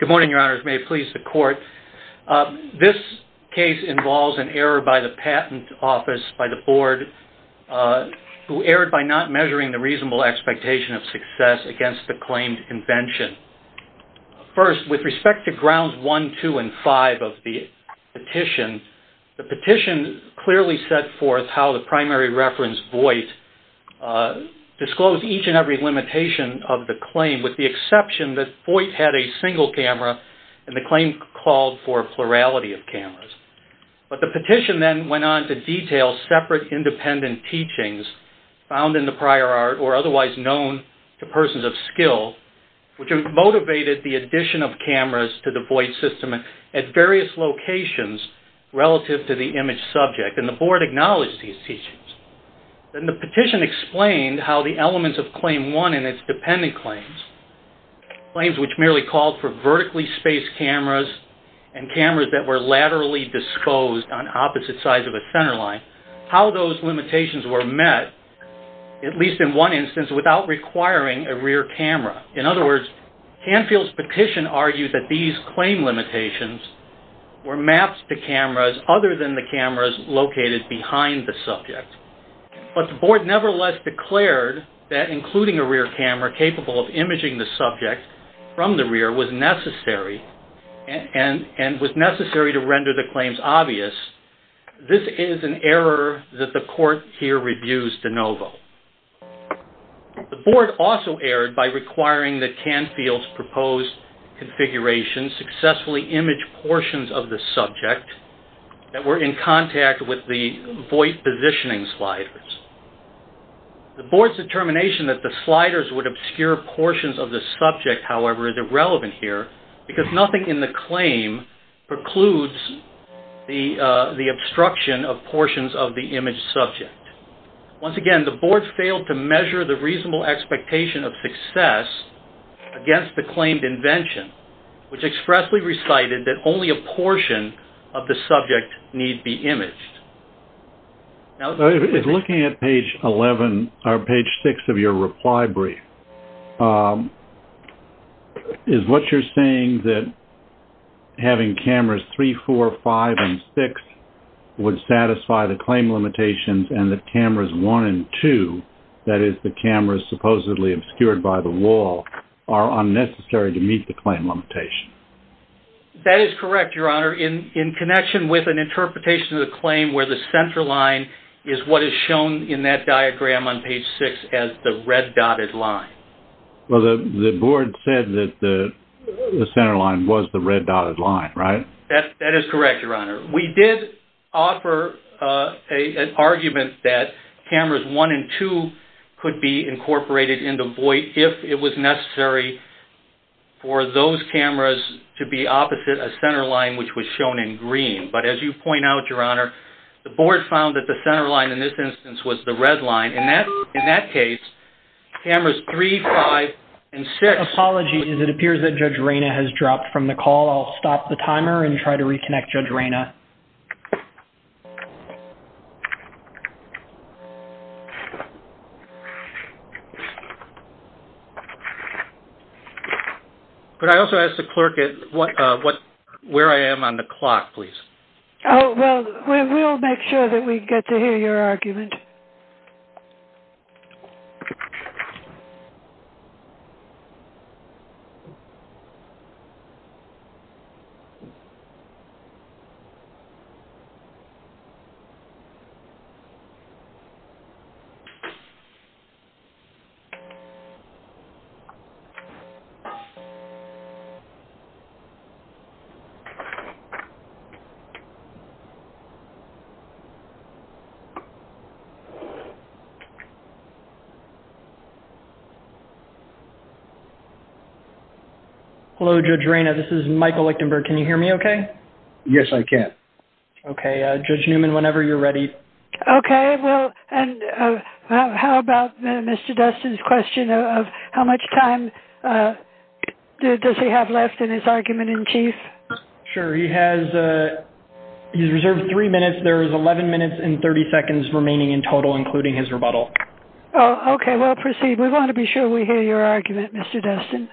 Good morning, Your Honors. May it please the Court. This case involves an error by the Patent Office by the Board who erred by not measuring the reasonable expectation of success against the claimed invention. First, with respect to Grounds 1, 2, and 5 of the petition, the petition clearly set forth how the primary reference void disclosed each and every limitation of the claim with the exception that void had a single camera and the claim called for plurality of cameras. But the petition then went on to detail separate independent teachings found in the prior art or otherwise known to persons of skill which motivated the addition of cameras to the void system at various locations relative to the image subject and the Board acknowledged these teachings. Then the petition explained how the elements of Claim 1 in its independent claims, claims which merely called for vertically spaced cameras and cameras that were laterally disclosed on opposite sides of a center line, how those limitations were met, at least in one instance, without requiring a rear camera. In other words, Canfield's petition argued that these claim limitations were mapped to cameras other than the cameras located behind the subject. But the Board nevertheless declared that including a rear camera capable of imaging the subject from the rear was necessary and was necessary to render the claims obvious. This is an error that the Court here reviews de novo. The Board also erred by requiring that Canfield's proposed configuration successfully image portions of the subject that were in contact with the void positioning sliders. The Board's determination that the sliders would obscure portions of the subject, however, is irrelevant here because nothing in the claim precludes the obstruction of portions of the image subject. Once again, the Board failed to measure the reasonable expectation of success against the claimed invention, which expressly recited that only a portion of the subject need be imaged. If looking at page 11 or page 6 of your reply brief, is what you're saying that having cameras 3, 4, 5, and 6 would satisfy the claim limitations and that cameras 1 and 2, that is the cameras supposedly obscured by the wall, are unnecessary to meet the claim limitation? That is correct, Your Honor. In connection with an interpretation of the claim where the center line is what is shown in that diagram on page 6 as the red dotted line. Well, the Board said that the center line was the red dotted line, right? That is correct, Your Honor. We did offer an argument that cameras 1 and 2 could be incorporated in the void if it was necessary for those cameras to be opposite a center line which was shown in green. But as you point out, Your Honor, the Board found that the center line in this instance was the red line. In that case, cameras 3, 5, and 6... I'm going to turn off the timer and try to reconnect Judge Reyna. Could I also ask the clerk where I am on the clock, please? Oh, well, we'll make sure that we get to hear your argument. Thank you, Your Honor. Can you hear me okay? Yes, I can. Okay. Judge Newman, whenever you're ready. Okay. Well, and how about Mr. Dustin's question of how much time does he have left in his argument in chief? Sure. He has reserved three minutes. There is 11 minutes and 30 seconds remaining in total, including his rebuttal. Oh, okay. We'll proceed. We want to be sure we hear your argument, Mr. Dustin.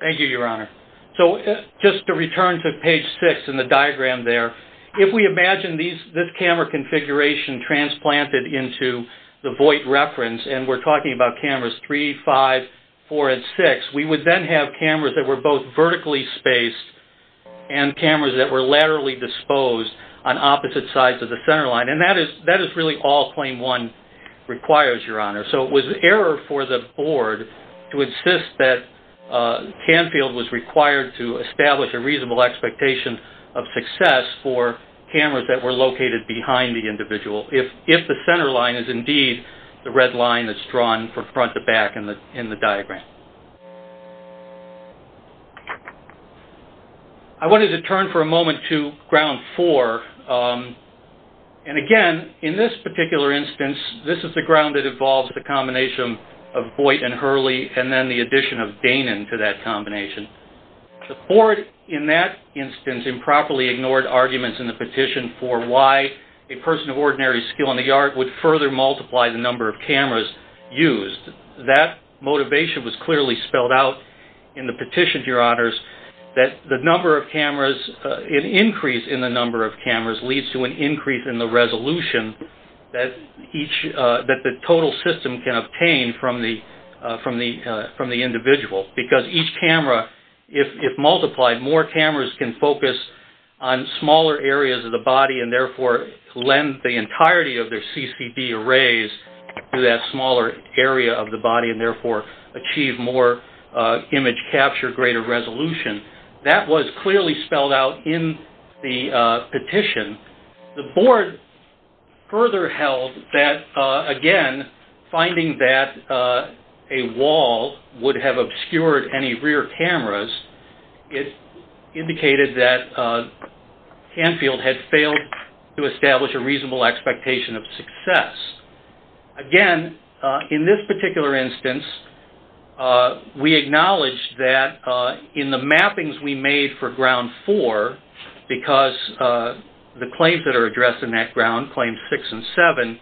Thank you, Your Honor. So just to return to page 6 in the diagram there, if we imagine this camera configuration transplanted into the void reference, and we're talking about cameras 3, 5, 4, and 6, we would then have cameras that were both vertically spaced and cameras that were laterally disposed on opposite sides of the center line. And that is really all claim 1 requires, Your Honor. So it was error for the board to insist that Canfield was required to establish a reasonable expectation of success for cameras that were located behind the individual if the center line is indeed the red line that's drawn from front to back in the diagram. I wanted to turn for a moment to ground 4. And again, in this particular instance, this is the ground that involves the combination of Voight and Hurley and then the addition of Danan to that combination. The board in that instance improperly ignored arguments in the petition for why a person of ordinary skill in the yard would further multiply the number of cameras used. That motivation was clearly spelled out in the petition, Your Honors, that the number of cameras, an increase in the number of cameras leads to an increase in the resolution that the total system can obtain from the individual. Because each camera, if multiplied, more cameras can focus on smaller areas of the body and therefore lend the entirety of their CCD arrays to that smaller area of the body and therefore achieve more image capture, greater resolution. That was clearly spelled out in the petition. The board further held that, again, finding that a wall would have obscured any rear cameras, it indicated that Canfield had failed to establish a reasonable expectation of success. Again, in this particular instance, we acknowledge that in the mappings we made for ground 4, because the claims that are addressed in that ground, claims 6 and 7,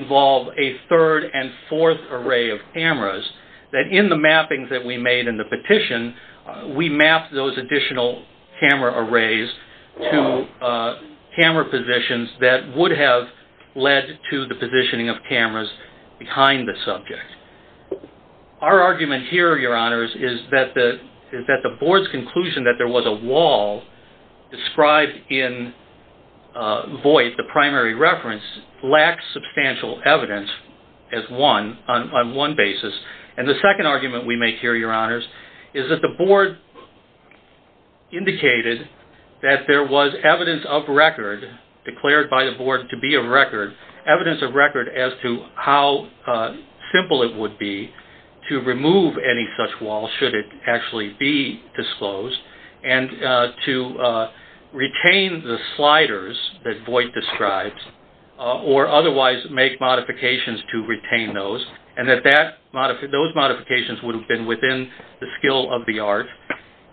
involve a third and fourth array of cameras, that in the mappings that we made in the petition, we mapped those additional camera arrays to camera positions that would have led to the positioning of cameras behind the subject. Our argument here, Your Honors, is that the board's conclusion that there was a wall described in void, the primary reference, lacks substantial evidence on one basis. And the second argument we make here, Your Honors, is that the board indicated that there was evidence of record, declared by the board to be of record, evidence of record as to how simple it would be to remove any such wall, should it actually be disclosed, and to retain the sliders that void describes, or otherwise make modifications to retain those, and that those modifications would have been within the skill of the art.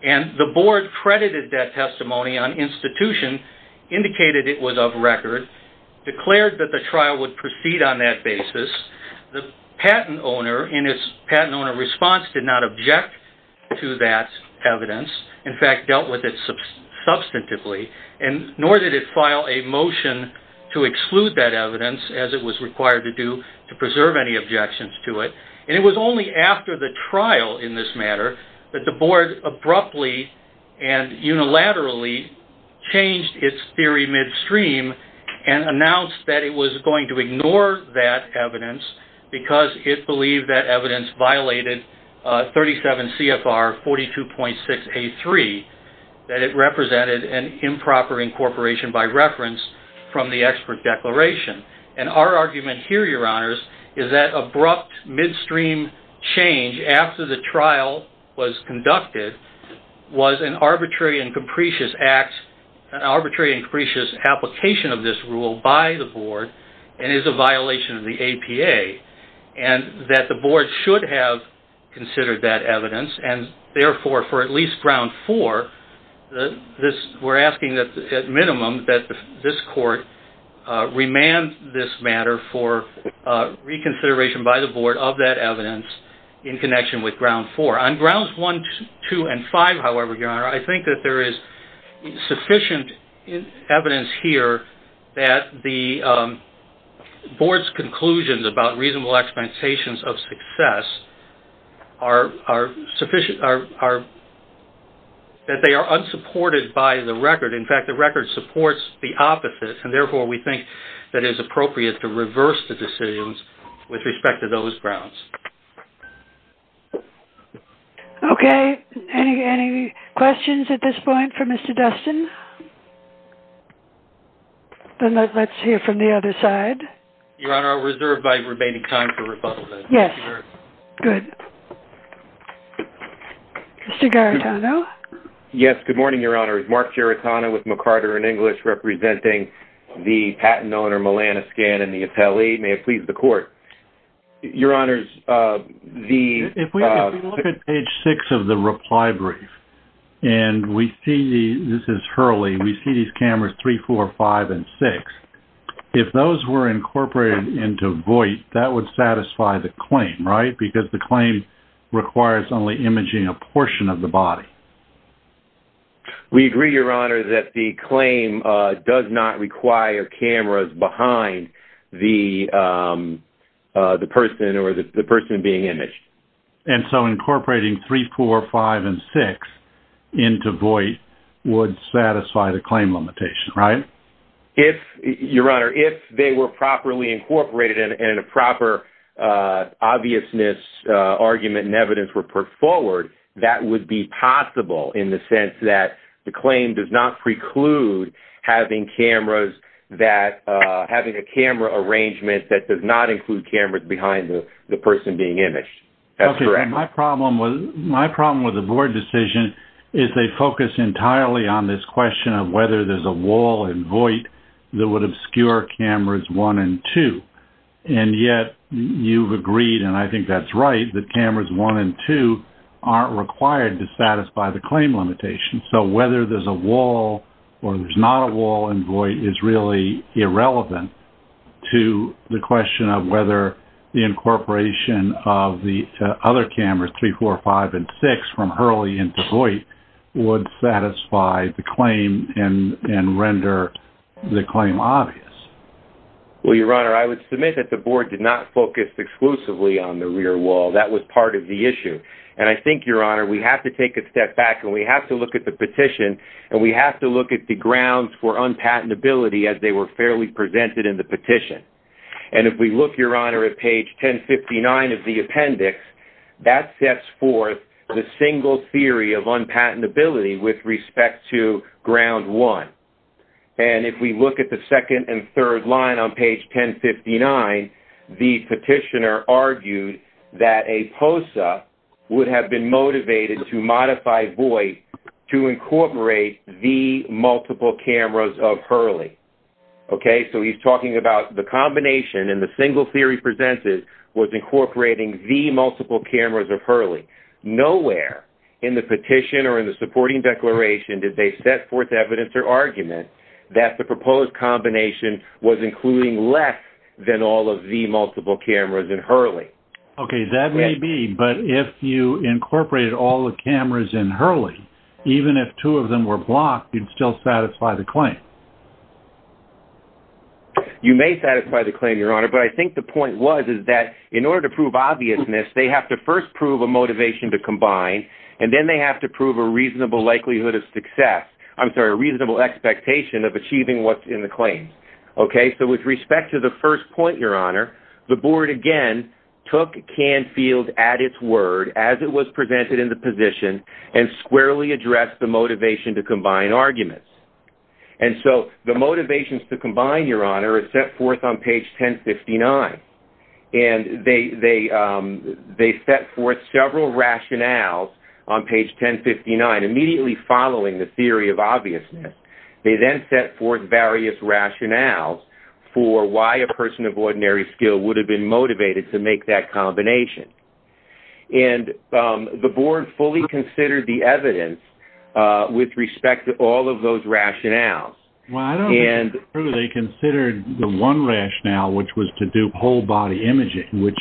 And the board credited that testimony on institution, indicated it was of record, declared that the trial would proceed on that basis. The patent owner, in its patent owner response, did not object to that evidence, in fact dealt with it substantively, nor did it file a motion to exclude that evidence, as it was required to do to preserve any objections to it. And it was only after the trial, in this matter, that the board abruptly and unilaterally changed its theory midstream, and announced that it was going to ignore that evidence, because it believed that evidence violated 37 CFR 42.6A3, that it represented an improper incorporation by reference from the expert declaration. And our argument here, Your Honors, is that abrupt midstream change, after the trial was conducted, was an arbitrary and capricious act, an arbitrary and capricious application of this rule by the board, and is a violation of the APA, and that the board should have considered that evidence, and therefore, for at least ground four, we're asking that, at minimum, that this court remand this matter for reconsideration by the board of that evidence in connection with ground four. On grounds one, two, and five, however, Your Honor, I think that there is sufficient evidence here that the board's conclusions about reasonable expectations of success are sufficient, that they are unsupported by the record. In fact, the record supports the opposite, and therefore, we think that it is appropriate to reverse the decisions with respect to those grounds. Okay. Any questions at this point for Mr. Dustin? Then let's hear from the other side. Your Honor, I'll reserve my remaining time for rebuttal then. Yes. Good. Mr. Garitano? Yes. Good morning, Your Honor. It's Mark Garitano with McCarter & English, representing the patent owner, Melanoscan, and the appellee. May it please the Court. Your Honor, the- If we look at page six of the reply brief, and we see the-this is Hurley-we see these cameras three, four, five, and six. If those were incorporated into void, that would satisfy the claim, right? Because the claim requires only imaging a portion of the body. We agree, Your Honor, that the claim does not require cameras behind the-the person or the person being imaged. And so incorporating three, four, five, and six into void would satisfy the claim limitation, right? If-Your Honor, if they were properly incorporated and a proper obviousness argument and evidence were put forward, that would be possible in the sense that the claim does not preclude having cameras that-having a camera arrangement that does not include cameras behind the-the person being imaged. That's correct. Okay. My problem with-my problem with the board decision is they focus entirely on this void that would obscure cameras one and two. And yet you've agreed, and I think that's right, that cameras one and two aren't required to satisfy the claim limitation. So whether there's a wall or there's not a wall in void is really irrelevant to the question of whether the incorporation of the other cameras, three, four, five, and six, from Hurley into void would satisfy the claim and-and render the claim obvious. Well, Your Honor, I would submit that the board did not focus exclusively on the rear wall. That was part of the issue. And I think, Your Honor, we have to take a step back, and we have to look at the petition, and we have to look at the grounds for unpatentability as they were fairly presented in the petition. And if we look, Your Honor, at page 1059 of the appendix, that sets forth the single theory of unpatentability with respect to ground one. And if we look at the second and third line on page 1059, the petitioner argued that a POSA would have been motivated to modify void to incorporate the multiple cameras of Hurley. Nowhere in the petition or in the supporting declaration did they set forth evidence or argument that the proposed combination was including less than all of the multiple cameras in Hurley. Okay. That may be, but if you incorporated all the cameras in Hurley, even if two of them were blocked, you'd still satisfy the claim. You may satisfy the claim, Your Honor, but I think the point was is that in order to prove obviousness, they have to first prove a motivation to combine, and then they have to prove a reasonable likelihood of success. I'm sorry, a reasonable expectation of achieving what's in the claim. Okay. So with respect to the first point, Your Honor, the board, again, took Canfield at its word as it was presented in the petition and squarely addressed the motivation to combine arguments. And so the motivations to combine, Your Honor, are set forth on page 1059. And they set forth several rationales on page 1059, immediately following the theory of obviousness. They then set forth various rationales for why a person of ordinary skill would have been motivated to make that combination. And the board fully considered the evidence with respect to all of those rationales. Well, I don't think they truly considered the one rationale, which was to do whole-body imaging, which,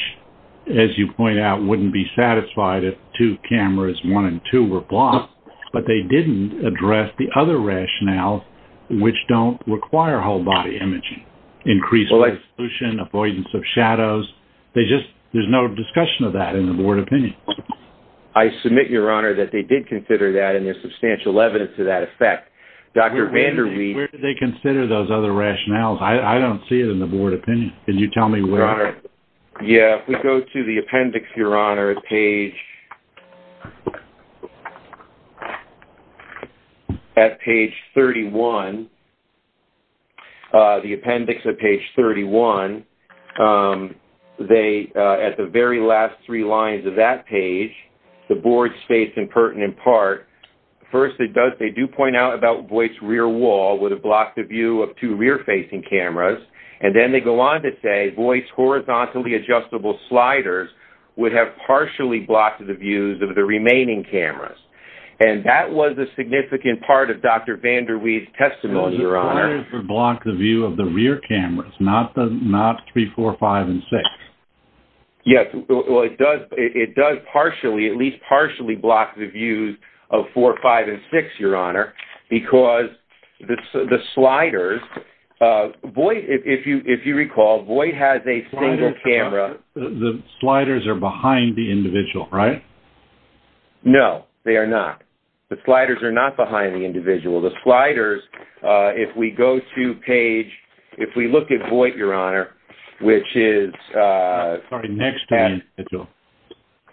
as you point out, wouldn't be satisfied if two cameras, one and two, were blocked. But they didn't address the other rationales, which don't require whole-body I submit, Your Honor, that they did consider that and there's substantial evidence to that effect. Dr. Vander Weide... Where did they consider those other rationales? I don't see it in the board opinion. Can you tell me where? Your Honor, yeah, if we go to the appendix, Your Honor, at page 31, the appendix at page 31, at the very last three lines of that page, the board states in pertinent part, first they do point out about Boyce's rear wall would have blocked the view of two rear-facing cameras. And then they go on to say, Boyce's horizontally adjustable sliders would have partially blocked the views of the remaining cameras. And that was a significant part of The sliders would block the view of the rear cameras, not three, four, five, and six. Yes, well, it does partially, at least partially block the views of four, five, and six, Your Honor, because the sliders, if you recall, Boyce has a single camera... The sliders are behind the individual, right? No, they are not. The sliders are not behind the individual. The sliders, if we go to page... If we look at Boyce, Your Honor, which is... Sorry, next to the individual.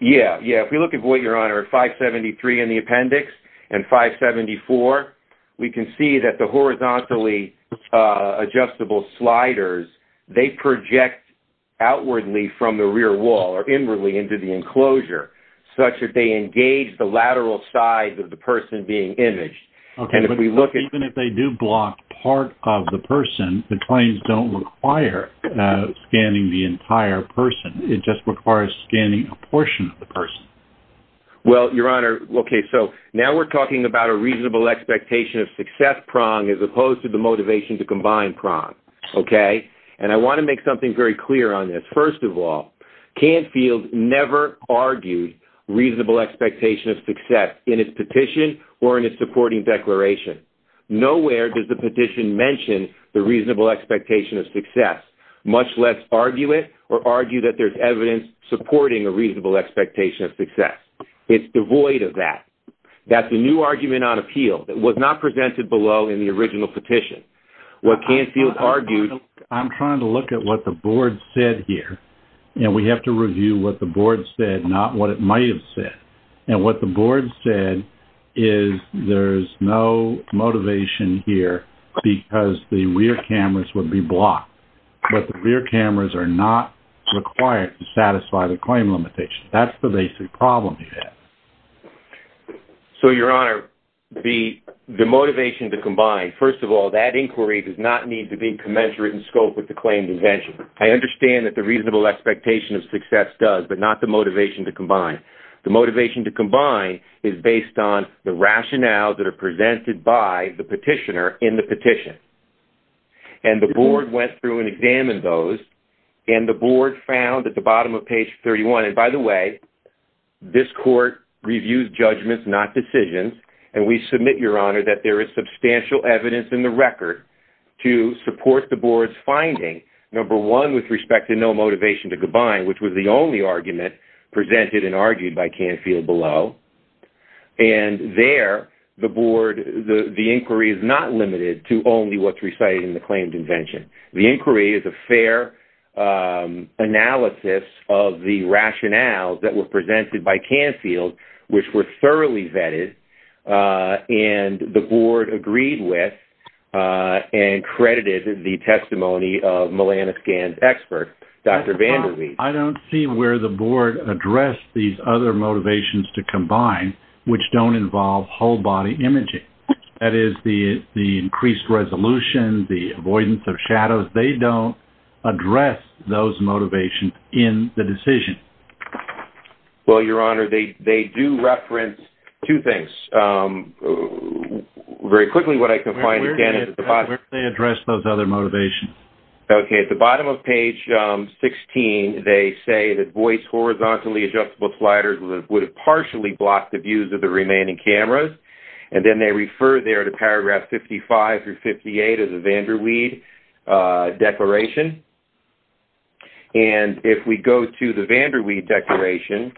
Yeah, yeah, if we look at Boyce, Your Honor, at 573 in the appendix, and 574, we can see that the horizontally adjustable sliders, they project outwardly from the rear wall, or inwardly into the enclosure, such that they engage the lateral sides of the person being imaged. And if we look at... Okay, but even if they do block part of the person, the claims don't require scanning the entire person. It just requires scanning a portion of the person. Well, Your Honor, okay, so now we're talking about a reasonable expectation of success prong as opposed to the motivation to combine prong, okay? And I want to make something very clear on this. First of all, Canfield never argued reasonable expectation of success in its petition or in its supporting declaration. Nowhere does the petition mention the reasonable expectation of success, much less argue it or argue that there's evidence supporting a reasonable expectation of success. It's devoid of that. That's a new argument on appeal that was not presented below in the original petition. What Canfield argued... What the board said here, and we have to review what the board said, not what it might have said. And what the board said is there's no motivation here because the rear cameras would be blocked. But the rear cameras are not required to satisfy the claim limitation. That's the basic problem you have. So, Your Honor, the motivation to combine, first of all, that inquiry does not need to be commensurate in scope with the claimed invention. I understand that the reasonable expectation of success does, but not the motivation to combine. The motivation to combine is based on the rationale that are presented by the petitioner in the petition. And the board went through and examined those, and the board found at the bottom of page 31, and by the way, this court reviews judgments, not decisions, and we submit, Your Honor, that there is substantial evidence in the record to support the board's finding, number one, with respect to no motivation to combine, which was the only argument presented and argued by Canfield below. And there, the board, the inquiry is not limited to only what's recited in the claimed invention. The inquiry is a fair analysis of the rationales that were presented by Canfield, which were and credited the testimony of Melanith Gann's expert, Dr. Vandermeer. I don't see where the board addressed these other motivations to combine, which don't involve whole-body imaging. That is, the increased resolution, the avoidance of shadows, they don't address those motivations in the decision. Well, Your Honor, they do reference two things. Very quickly, what I can find again is at the bottom. Where did they address those other motivations? Okay, at the bottom of page 16, they say that voice horizontally adjustable sliders would have partially blocked the views of the remaining cameras, and then they refer there to paragraph 55 through 58 of the Vandermeer Declaration. And if we go to the Vandermeer Declaration,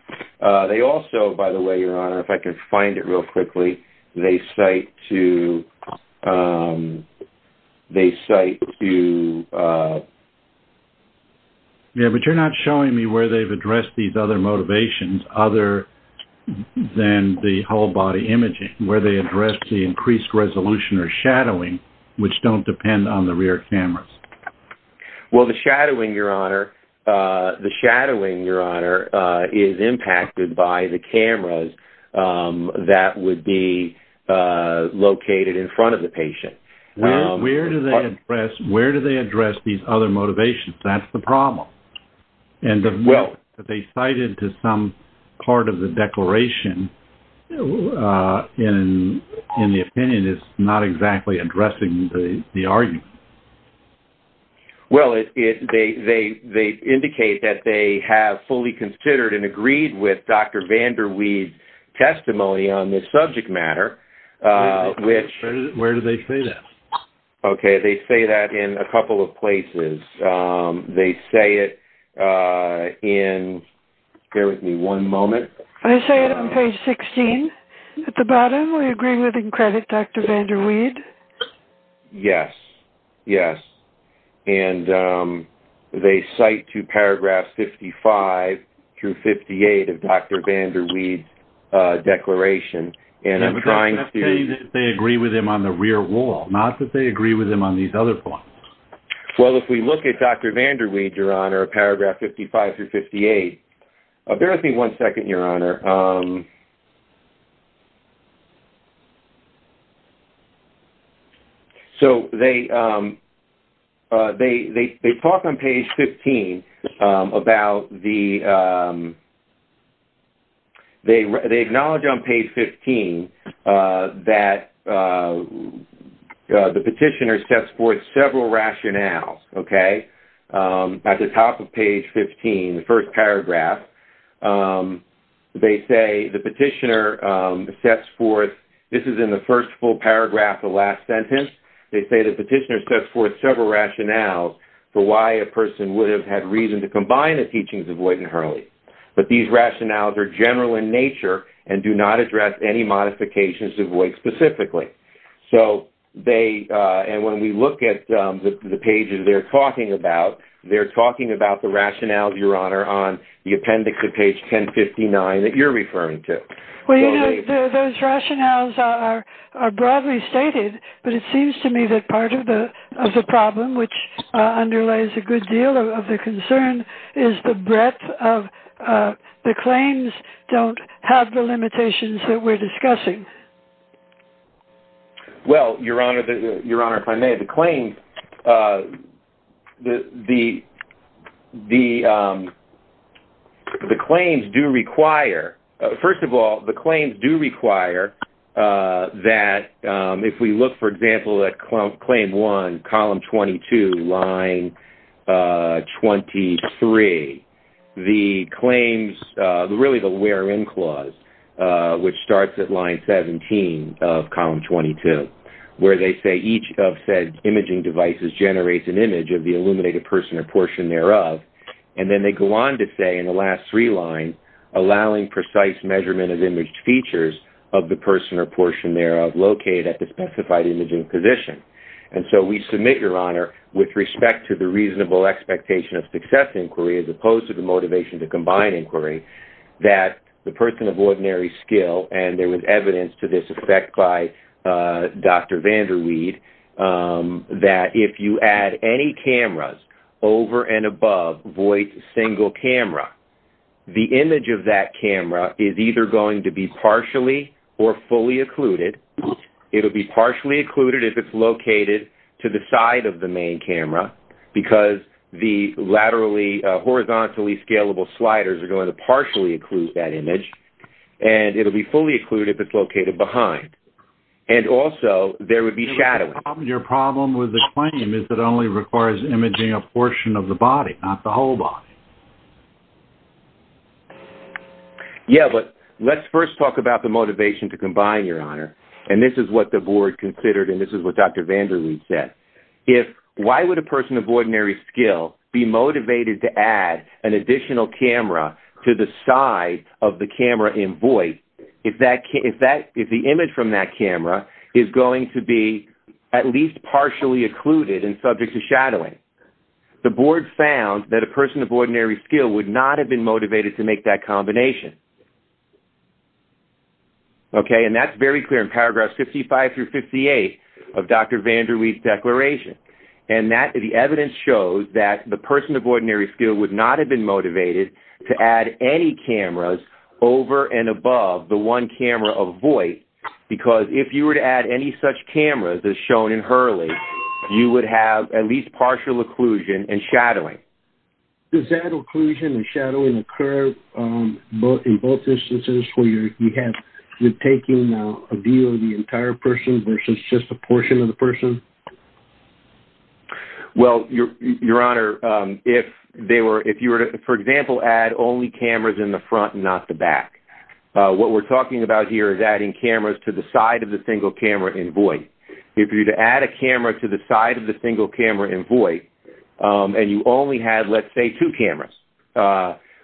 they also, by the way, Your Honor, if I can find it real quickly, they cite to, they cite to... Yeah, but you're not showing me where they've addressed these other motivations other than the whole-body imaging, where they address the increased resolution or shadowing, which don't depend on the rear cameras. Well, the shadowing, Your Honor, the shadowing, Your Honor, is impacted by the cameras that would be located in front of the patient. Where do they address these other motivations? That's the problem. Well... But they cite it to some part of the declaration. In the opinion, it's not exactly addressing the argument. Well, they indicate that they have fully considered and agreed with Dr. Vandermeer's testimony on this subject matter, which... Where do they say that? Okay, they say that in a couple of places. They say it in... Bear with me one moment. I say it on page 16 at the bottom. We agree with and credit Dr. Vandermeer. Yes, yes. And they cite to paragraphs 55 through 58 of Dr. Vandermeer's declaration. And I'm trying to... Not that they agree with him on these other points. Well, if we look at Dr. Vandermeer, Your Honor, paragraph 55 through 58... Bear with me one second, Your Honor. So, they talk on page 15 about the... They acknowledge on page 15 that the petitioner sets forth several rationales, okay? At the top of page 15, the first paragraph, they say the petitioner sets forth... This is in the first full paragraph, the last sentence. They say the petitioner sets forth several rationales for why a person would have had reason to combine the teachings of Boyd and Hurley. But these rationales are general in pages they're talking about. They're talking about the rationales, Your Honor, on the appendix at page 1059 that you're referring to. Well, you know, those rationales are broadly stated, but it seems to me that part of the problem, which underlies a good deal of the concern, is the breadth of... The claims don't have the limitations that we're discussing. Well, Your Honor, if I may, the claims... The claims do require... First of all, the claims do require that if we look, for example, at claim one, column 22, line 23, the claims... Which starts at line 17 of column 22, where they say each of said imaging devices generates an image of the illuminated person or portion thereof. And then they go on to say in the last three lines, allowing precise measurement of imaged features of the person or portion thereof located at the specified imaging position. And so we submit, Your Honor, with respect to the reasonable expectation of success inquiry as opposed to the motivation to combine inquiry, that the person of ordinary skill, and there was evidence to this effect by Dr. Vander Weide, that if you add any cameras over and above Voight's single camera, the image of that camera is either going to be partially or fully occluded. It'll be partially occluded if it's located to the side of the main camera because the laterally horizontally scalable sliders are going to partially occlude that image, and it'll be fully occluded if it's located behind. And also, there would be shadowing. Your problem with the claim is that it only requires imaging a portion of the body, not the whole body. Yeah, but let's first talk about the motivation to combine, Your Honor. And this is what the person of ordinary skill be motivated to add an additional camera to the side of the camera in Voight if the image from that camera is going to be at least partially occluded and subject to shadowing. The board found that a person of ordinary skill would not have been motivated to make that combination. Okay, and that's very clear in paragraphs 55 through 58 of Dr. Vander Weide's declaration. And the evidence shows that the person of ordinary skill would not have been motivated to add any cameras over and above the one camera of Voight because if you were to add any such cameras as shown in Hurley, you would have at least partial occlusion and shadowing. Does that occlusion and shadowing occur in both instances where you're taking a view of the entire person versus just a portion of the person? Well, Your Honor, if you were to, for example, add only cameras in the front and not the back, what we're talking about here is adding cameras to the side of the single camera in Voight. If you were to add a camera to the side of the single camera in Voight and you only had, let's say, two cameras,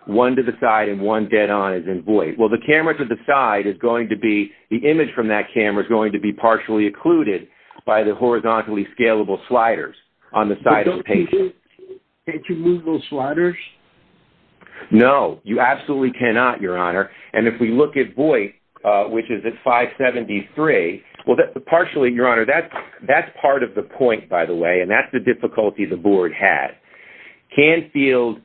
one to the side and one dead on as in Voight, well, the camera to the side is going to be the image from that camera is going to be partially occluded by the horizontally scalable sliders on the side of the patient. Can't you move those sliders? No, you absolutely cannot, Your Honor. And if we look at Voight, which is at 573, well, partially, Your Honor, that's part of the point, by the way, and that's the difficulty the board had. Canfield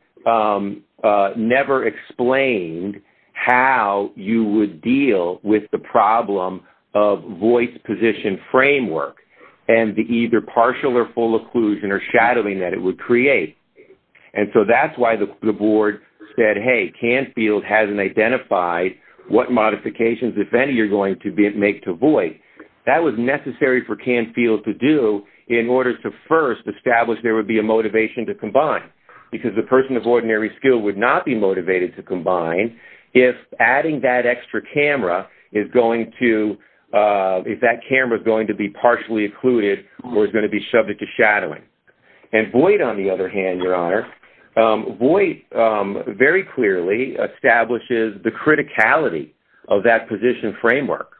never explained how you would deal with the problem of Voight in this position framework and the either partial or full occlusion or shadowing that it would create. And so that's why the board said, hey, Canfield hasn't identified what modifications, if any, you're going to make to Voight. That was necessary for Canfield to do in order to first establish there would be a motivation to combine because the person of ordinary skill would not be motivated to combine if adding that extra camera is going to, if that camera is going to be partially occluded or is going to be subject to shadowing. And Voight, on the other hand, Your Honor, Voight very clearly establishes the criticality of that position framework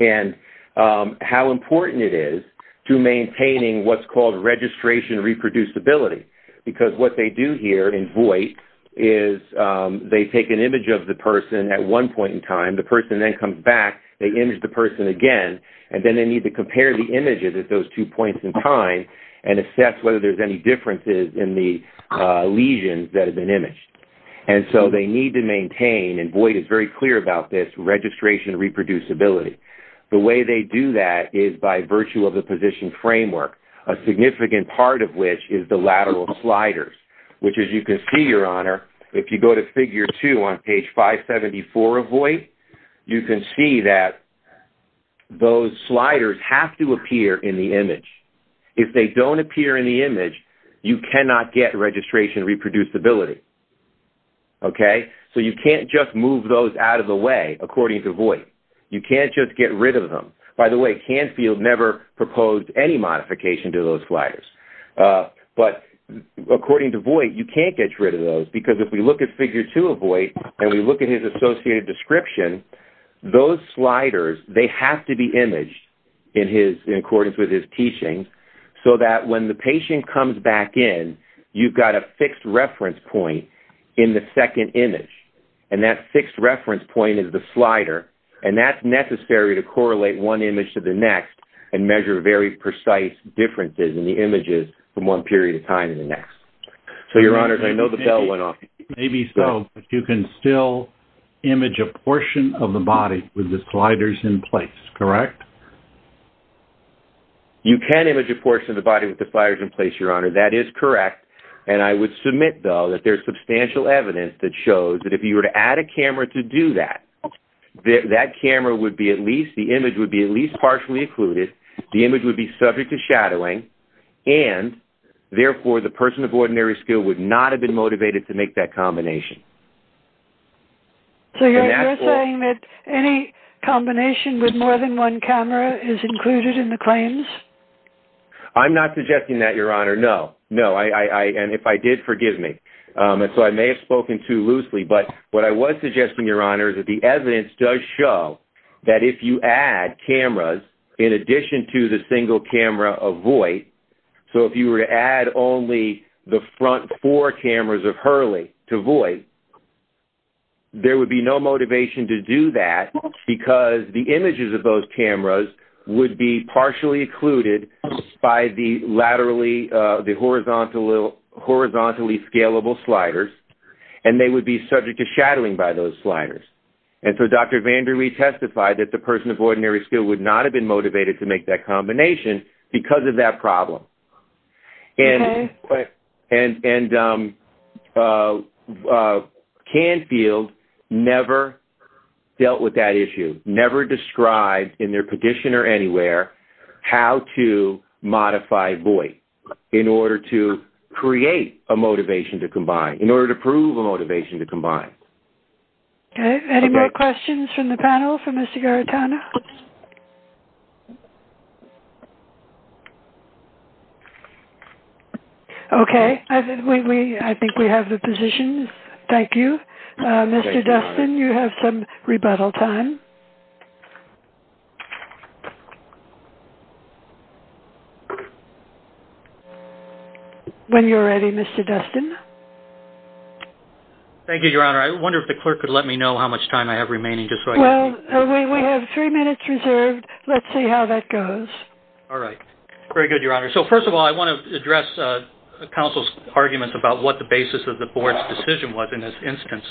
and how important it is to maintaining what's called registration reproducibility because what they do here in Voight is they take an image of the person at one point in time, the person then comes back, they image the person again, and then they need to compare the images at those two points in time and assess whether there's any differences in the lesions that have been imaged. And so they need to maintain, and Voight is very clear about this, registration reproducibility. The way they do that is by virtue of the position framework, a significant part of which is the lateral sliders, which as you can see, Your Honor, if you go to figure two on page 574 of Voight, you can see that those sliders have to appear in the image. If they don't appear in the image, you cannot get registration reproducibility. Okay? So you can't just move those out of the way according to Voight. You can't just get rid of them. By the way, Canfield never proposed any modification to those sliders. But according to Voight, you can't get rid of those because if we look at figure two of Voight and we look at his associated description, those sliders, they have to be imaged in accordance with his teachings so that when the patient comes back in, you've got a fixed reference point in the second image. And that fixed reference point is the slider, and that's necessary to correlate one image to the next and measure very precise differences in the images from one period of time to the next. So, Your Honor, I know the bell went off. Maybe so, but you can still image a portion of the body with the sliders in place, correct? You can image a portion of the body with the sliders in place, Your Honor. That is correct. And I would submit, though, that there is substantial evidence that shows that if you were to add a camera to do that, that camera would be at least, the image would be at least partially occluded, the image would be subject to shadowing, and, therefore, the person of ordinary skill would not have been motivated to make that combination. So you're saying that any combination with more than one camera is included in the claims? I'm not suggesting that, Your Honor, no. No. And if I did, forgive me. And so I may have spoken too loosely, but what I was suggesting, Your Honor, is that the evidence does show that if you add cameras in addition to the single camera of Voight, so if you were to add only the front four cameras of Hurley to Voight, there would be no motivation to do that because the images of those cameras would be partially occluded by the horizontally scalable sliders, and they would be subject to shadowing by those sliders. And so Dr. Vandery testified that the person of ordinary skill would not have been motivated to make that combination because of that problem. And Canfield never dealt with that issue, never described in their petition or anywhere how to modify Voight in order to create a motivation to combine, in order to prove a motivation to combine. Okay. Any more questions from the panel for Mr. Garitano? Okay. I think we have the positions. Thank you. Mr. Dustin, you have some rebuttal time. When you're ready, Mr. Dustin. Thank you, Your Honor. I wonder if the clerk could let me know how much time I have remaining. Well, we have three minutes reserved. Let's see how that goes. All right. Very good, Your Honor. So, first of all, I want to address counsel's argument about what the basis of the board's decision was in this instance.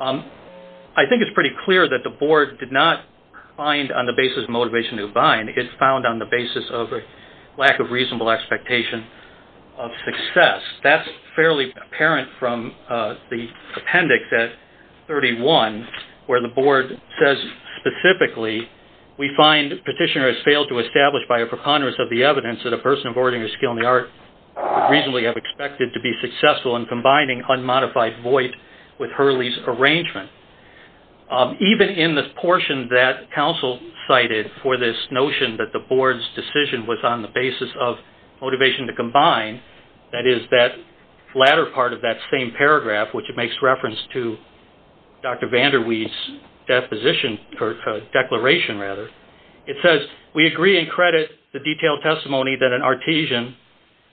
I think it's pretty clear that the board did not find on the basis of motivation to combine. It found on the basis of lack of reasonable expectation of success. That's fairly apparent from the appendix at 31 where the board says specifically, we find petitioner has failed to establish by a preponderance of the evidence that a person of ordinary skill in the art would reasonably have expected to be successful in combining unmodified Voight with Hurley's arrangement. Even in the portion that counsel cited for this notion that the board's decision was on the basis of motivation to combine, that is that latter part of that same paragraph, which it makes reference to Dr. Vander Weide's deposition or declaration, rather. It says, we agree and credit the detailed testimony that an artesian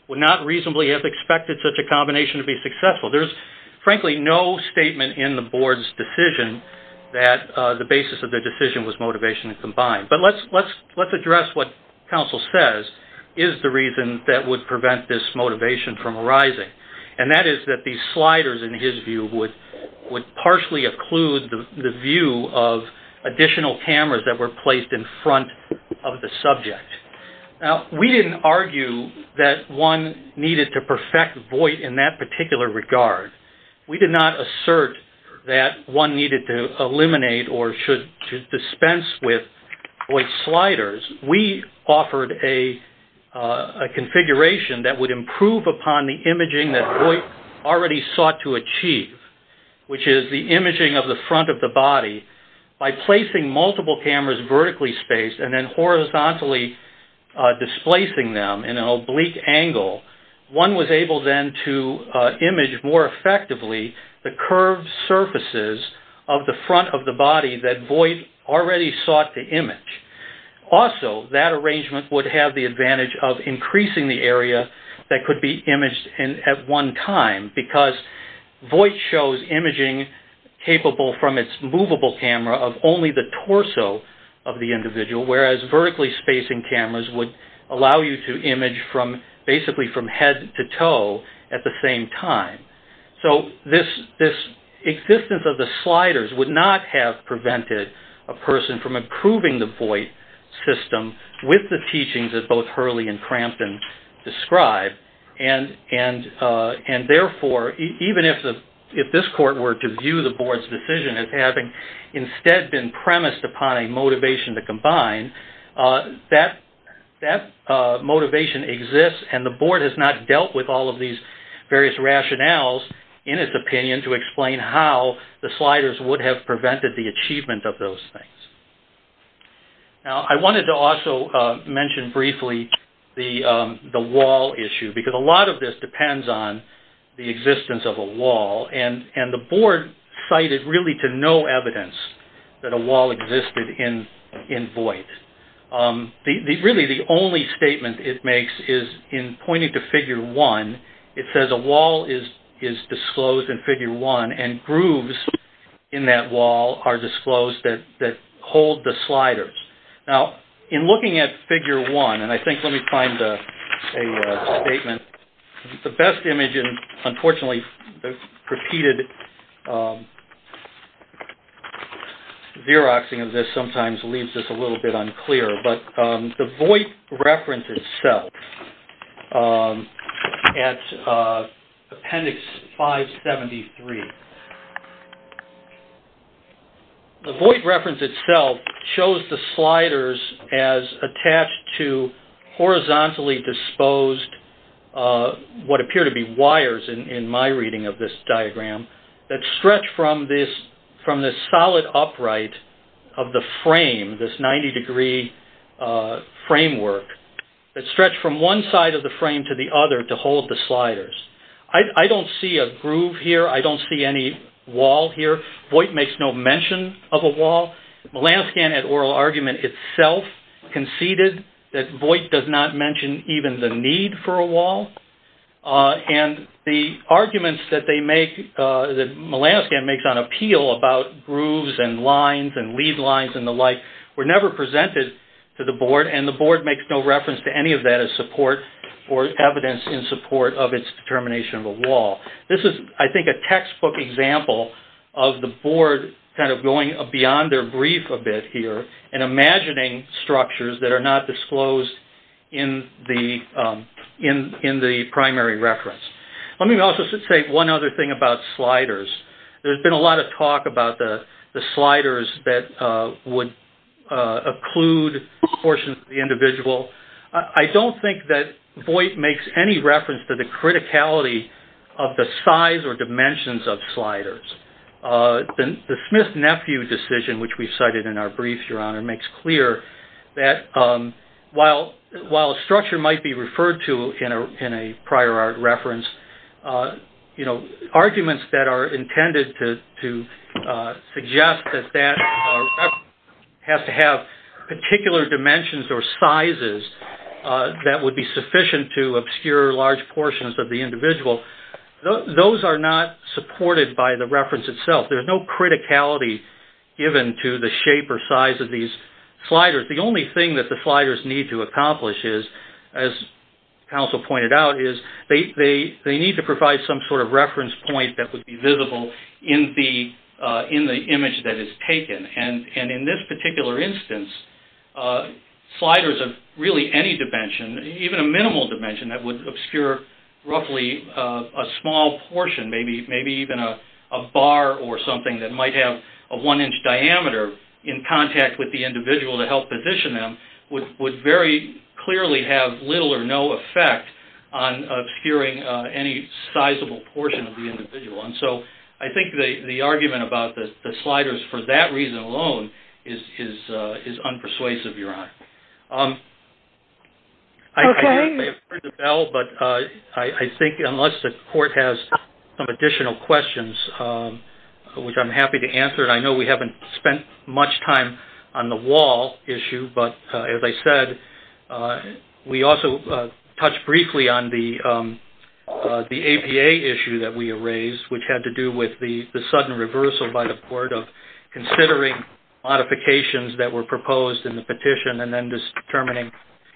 would not reasonably have expected such a combination to be successful. There's frankly no statement in the board's decision that the basis of the decision was motivation to combine. Let's address what counsel says is the reason that would prevent this motivation from arising. That is that these sliders in his view would partially occlude the view of additional cameras that were placed in front of the subject. We didn't argue that one needed to perfect Voight in that particular regard. We did not assert that one needed to eliminate or dispense with Voight's sliders. We offered a configuration that would improve upon the imaging that Voight already sought to achieve, which is the imaging of the front of the body by placing multiple cameras vertically spaced and then horizontally displacing them in an oblique angle. One was able then to image more effectively the curved surfaces of the front of the body that Voight already sought to image. Also, that arrangement would have the advantage of increasing the area that could be imaged at one time because Voight shows imaging capable from its movable camera of only the torso of the individual, whereas vertically spacing cameras would allow you to image basically from head to toe at the same time. This existence of the sliders would not have prevented a person from improving the Voight system with the teachings that both Hurley and Crampton describe. Therefore, even if this court were to view the board's decision as having instead been premised upon a motivation to combine, that motivation exists and the board has not dealt with all of these various rationales in its opinion to explain how the sliders would have prevented the achievement of those things. I wanted to also mention briefly the wall issue because a lot of this depends on the existence of a wall and the board cited really to no evidence that a wall existed in Voight. Really, the only statement it makes is in pointing to figure one, it says a wall is disclosed in figure one and grooves in that wall are disclosed that hold the sliders. Now, in looking at figure one, and I think let me find a statement, the best image and unfortunately the repeated Xeroxing of this sometimes leaves this a little bit unclear, but the Voight reference itself at appendix 573. The Voight reference itself shows the sliders as attached to horizontally disposed what appear to be wires in my reading of this diagram that stretch from this solid upright of the frame, this 90 degree framework, that stretch from one side of the frame to the other to hold the sliders. I don't see a groove here. I don't see any wall here. Voight makes no mention of a wall. Melanoscan at oral argument itself conceded that Voight does not mention even the need for a wall and the arguments that they make, that Melanoscan makes on appeal about grooves and lines and lead lines and the like were never presented to the board and the board makes no reference to any of that as support or evidence in support of its determination of a wall. This is, I think, a textbook example of the board kind of going beyond their brief a bit here and imagining structures that are not disclosed in the primary reference. Let me also say one other thing about sliders. There's been a lot of talk about the sliders that would occlude portions of the individual. I don't think that Voight makes any reference to the criticality of the size or dimensions of sliders. The Smith-Nephew decision, which we cited in our brief, Your Honor, makes clear that while a structure might be referred to in a prior art reference, arguments that are intended to suggest that that has to have particular dimensions or sizes that would be sufficient to obscure large portions of the individual, those are not supported by the reference itself. There's no criticality given to the shape or size of these sliders. The only thing that the sliders need to accomplish is, as counsel pointed out, is they need to provide some sort of reference point that would be visible in the image that is taken. And in this particular instance, sliders of really any dimension, even a minimal dimension that would obscure roughly a small portion, maybe even a bar or something that might have a one-inch diameter in contact with the individual to help position them, would very clearly have little or no effect on obscuring any sizable portion of the individual. And so I think the argument about the sliders for that reason alone is unpersuasive, Your Honor. I may have heard the bell, but I think unless the Court has some additional questions, which I'm happy to answer. And I know we haven't spent much time on the wall issue, but as I said, we also touched briefly on the APA issue that we raised, which had to do with the sudden reversal by the Court of considering modifications that were proposed in the petition and then determining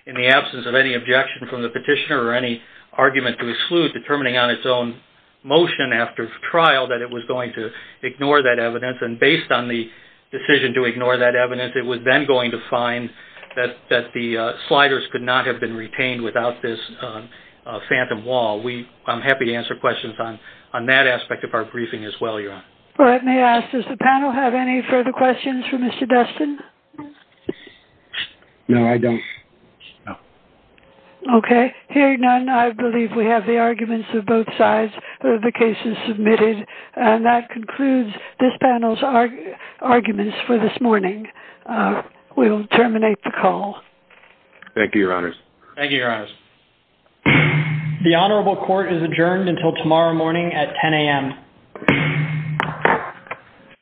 in the absence of any objection from the petitioner or any argument to exclude, determining on the basis of trial that it was going to ignore that evidence. And based on the decision to ignore that evidence, it was then going to find that the sliders could not have been retained without this phantom wall. I'm happy to answer questions on that aspect of our briefing as well, Your Honor. Let me ask, does the panel have any further questions for Mr. Destin? No, I don't. No. Okay. Hearing none, I believe we have the arguments of both sides of the cases submitted. And that concludes this panel's arguments for this morning. We will terminate the call. Thank you, Your Honors. Thank you, Your Honors. The Honorable Court is adjourned until tomorrow morning at 10 a.m.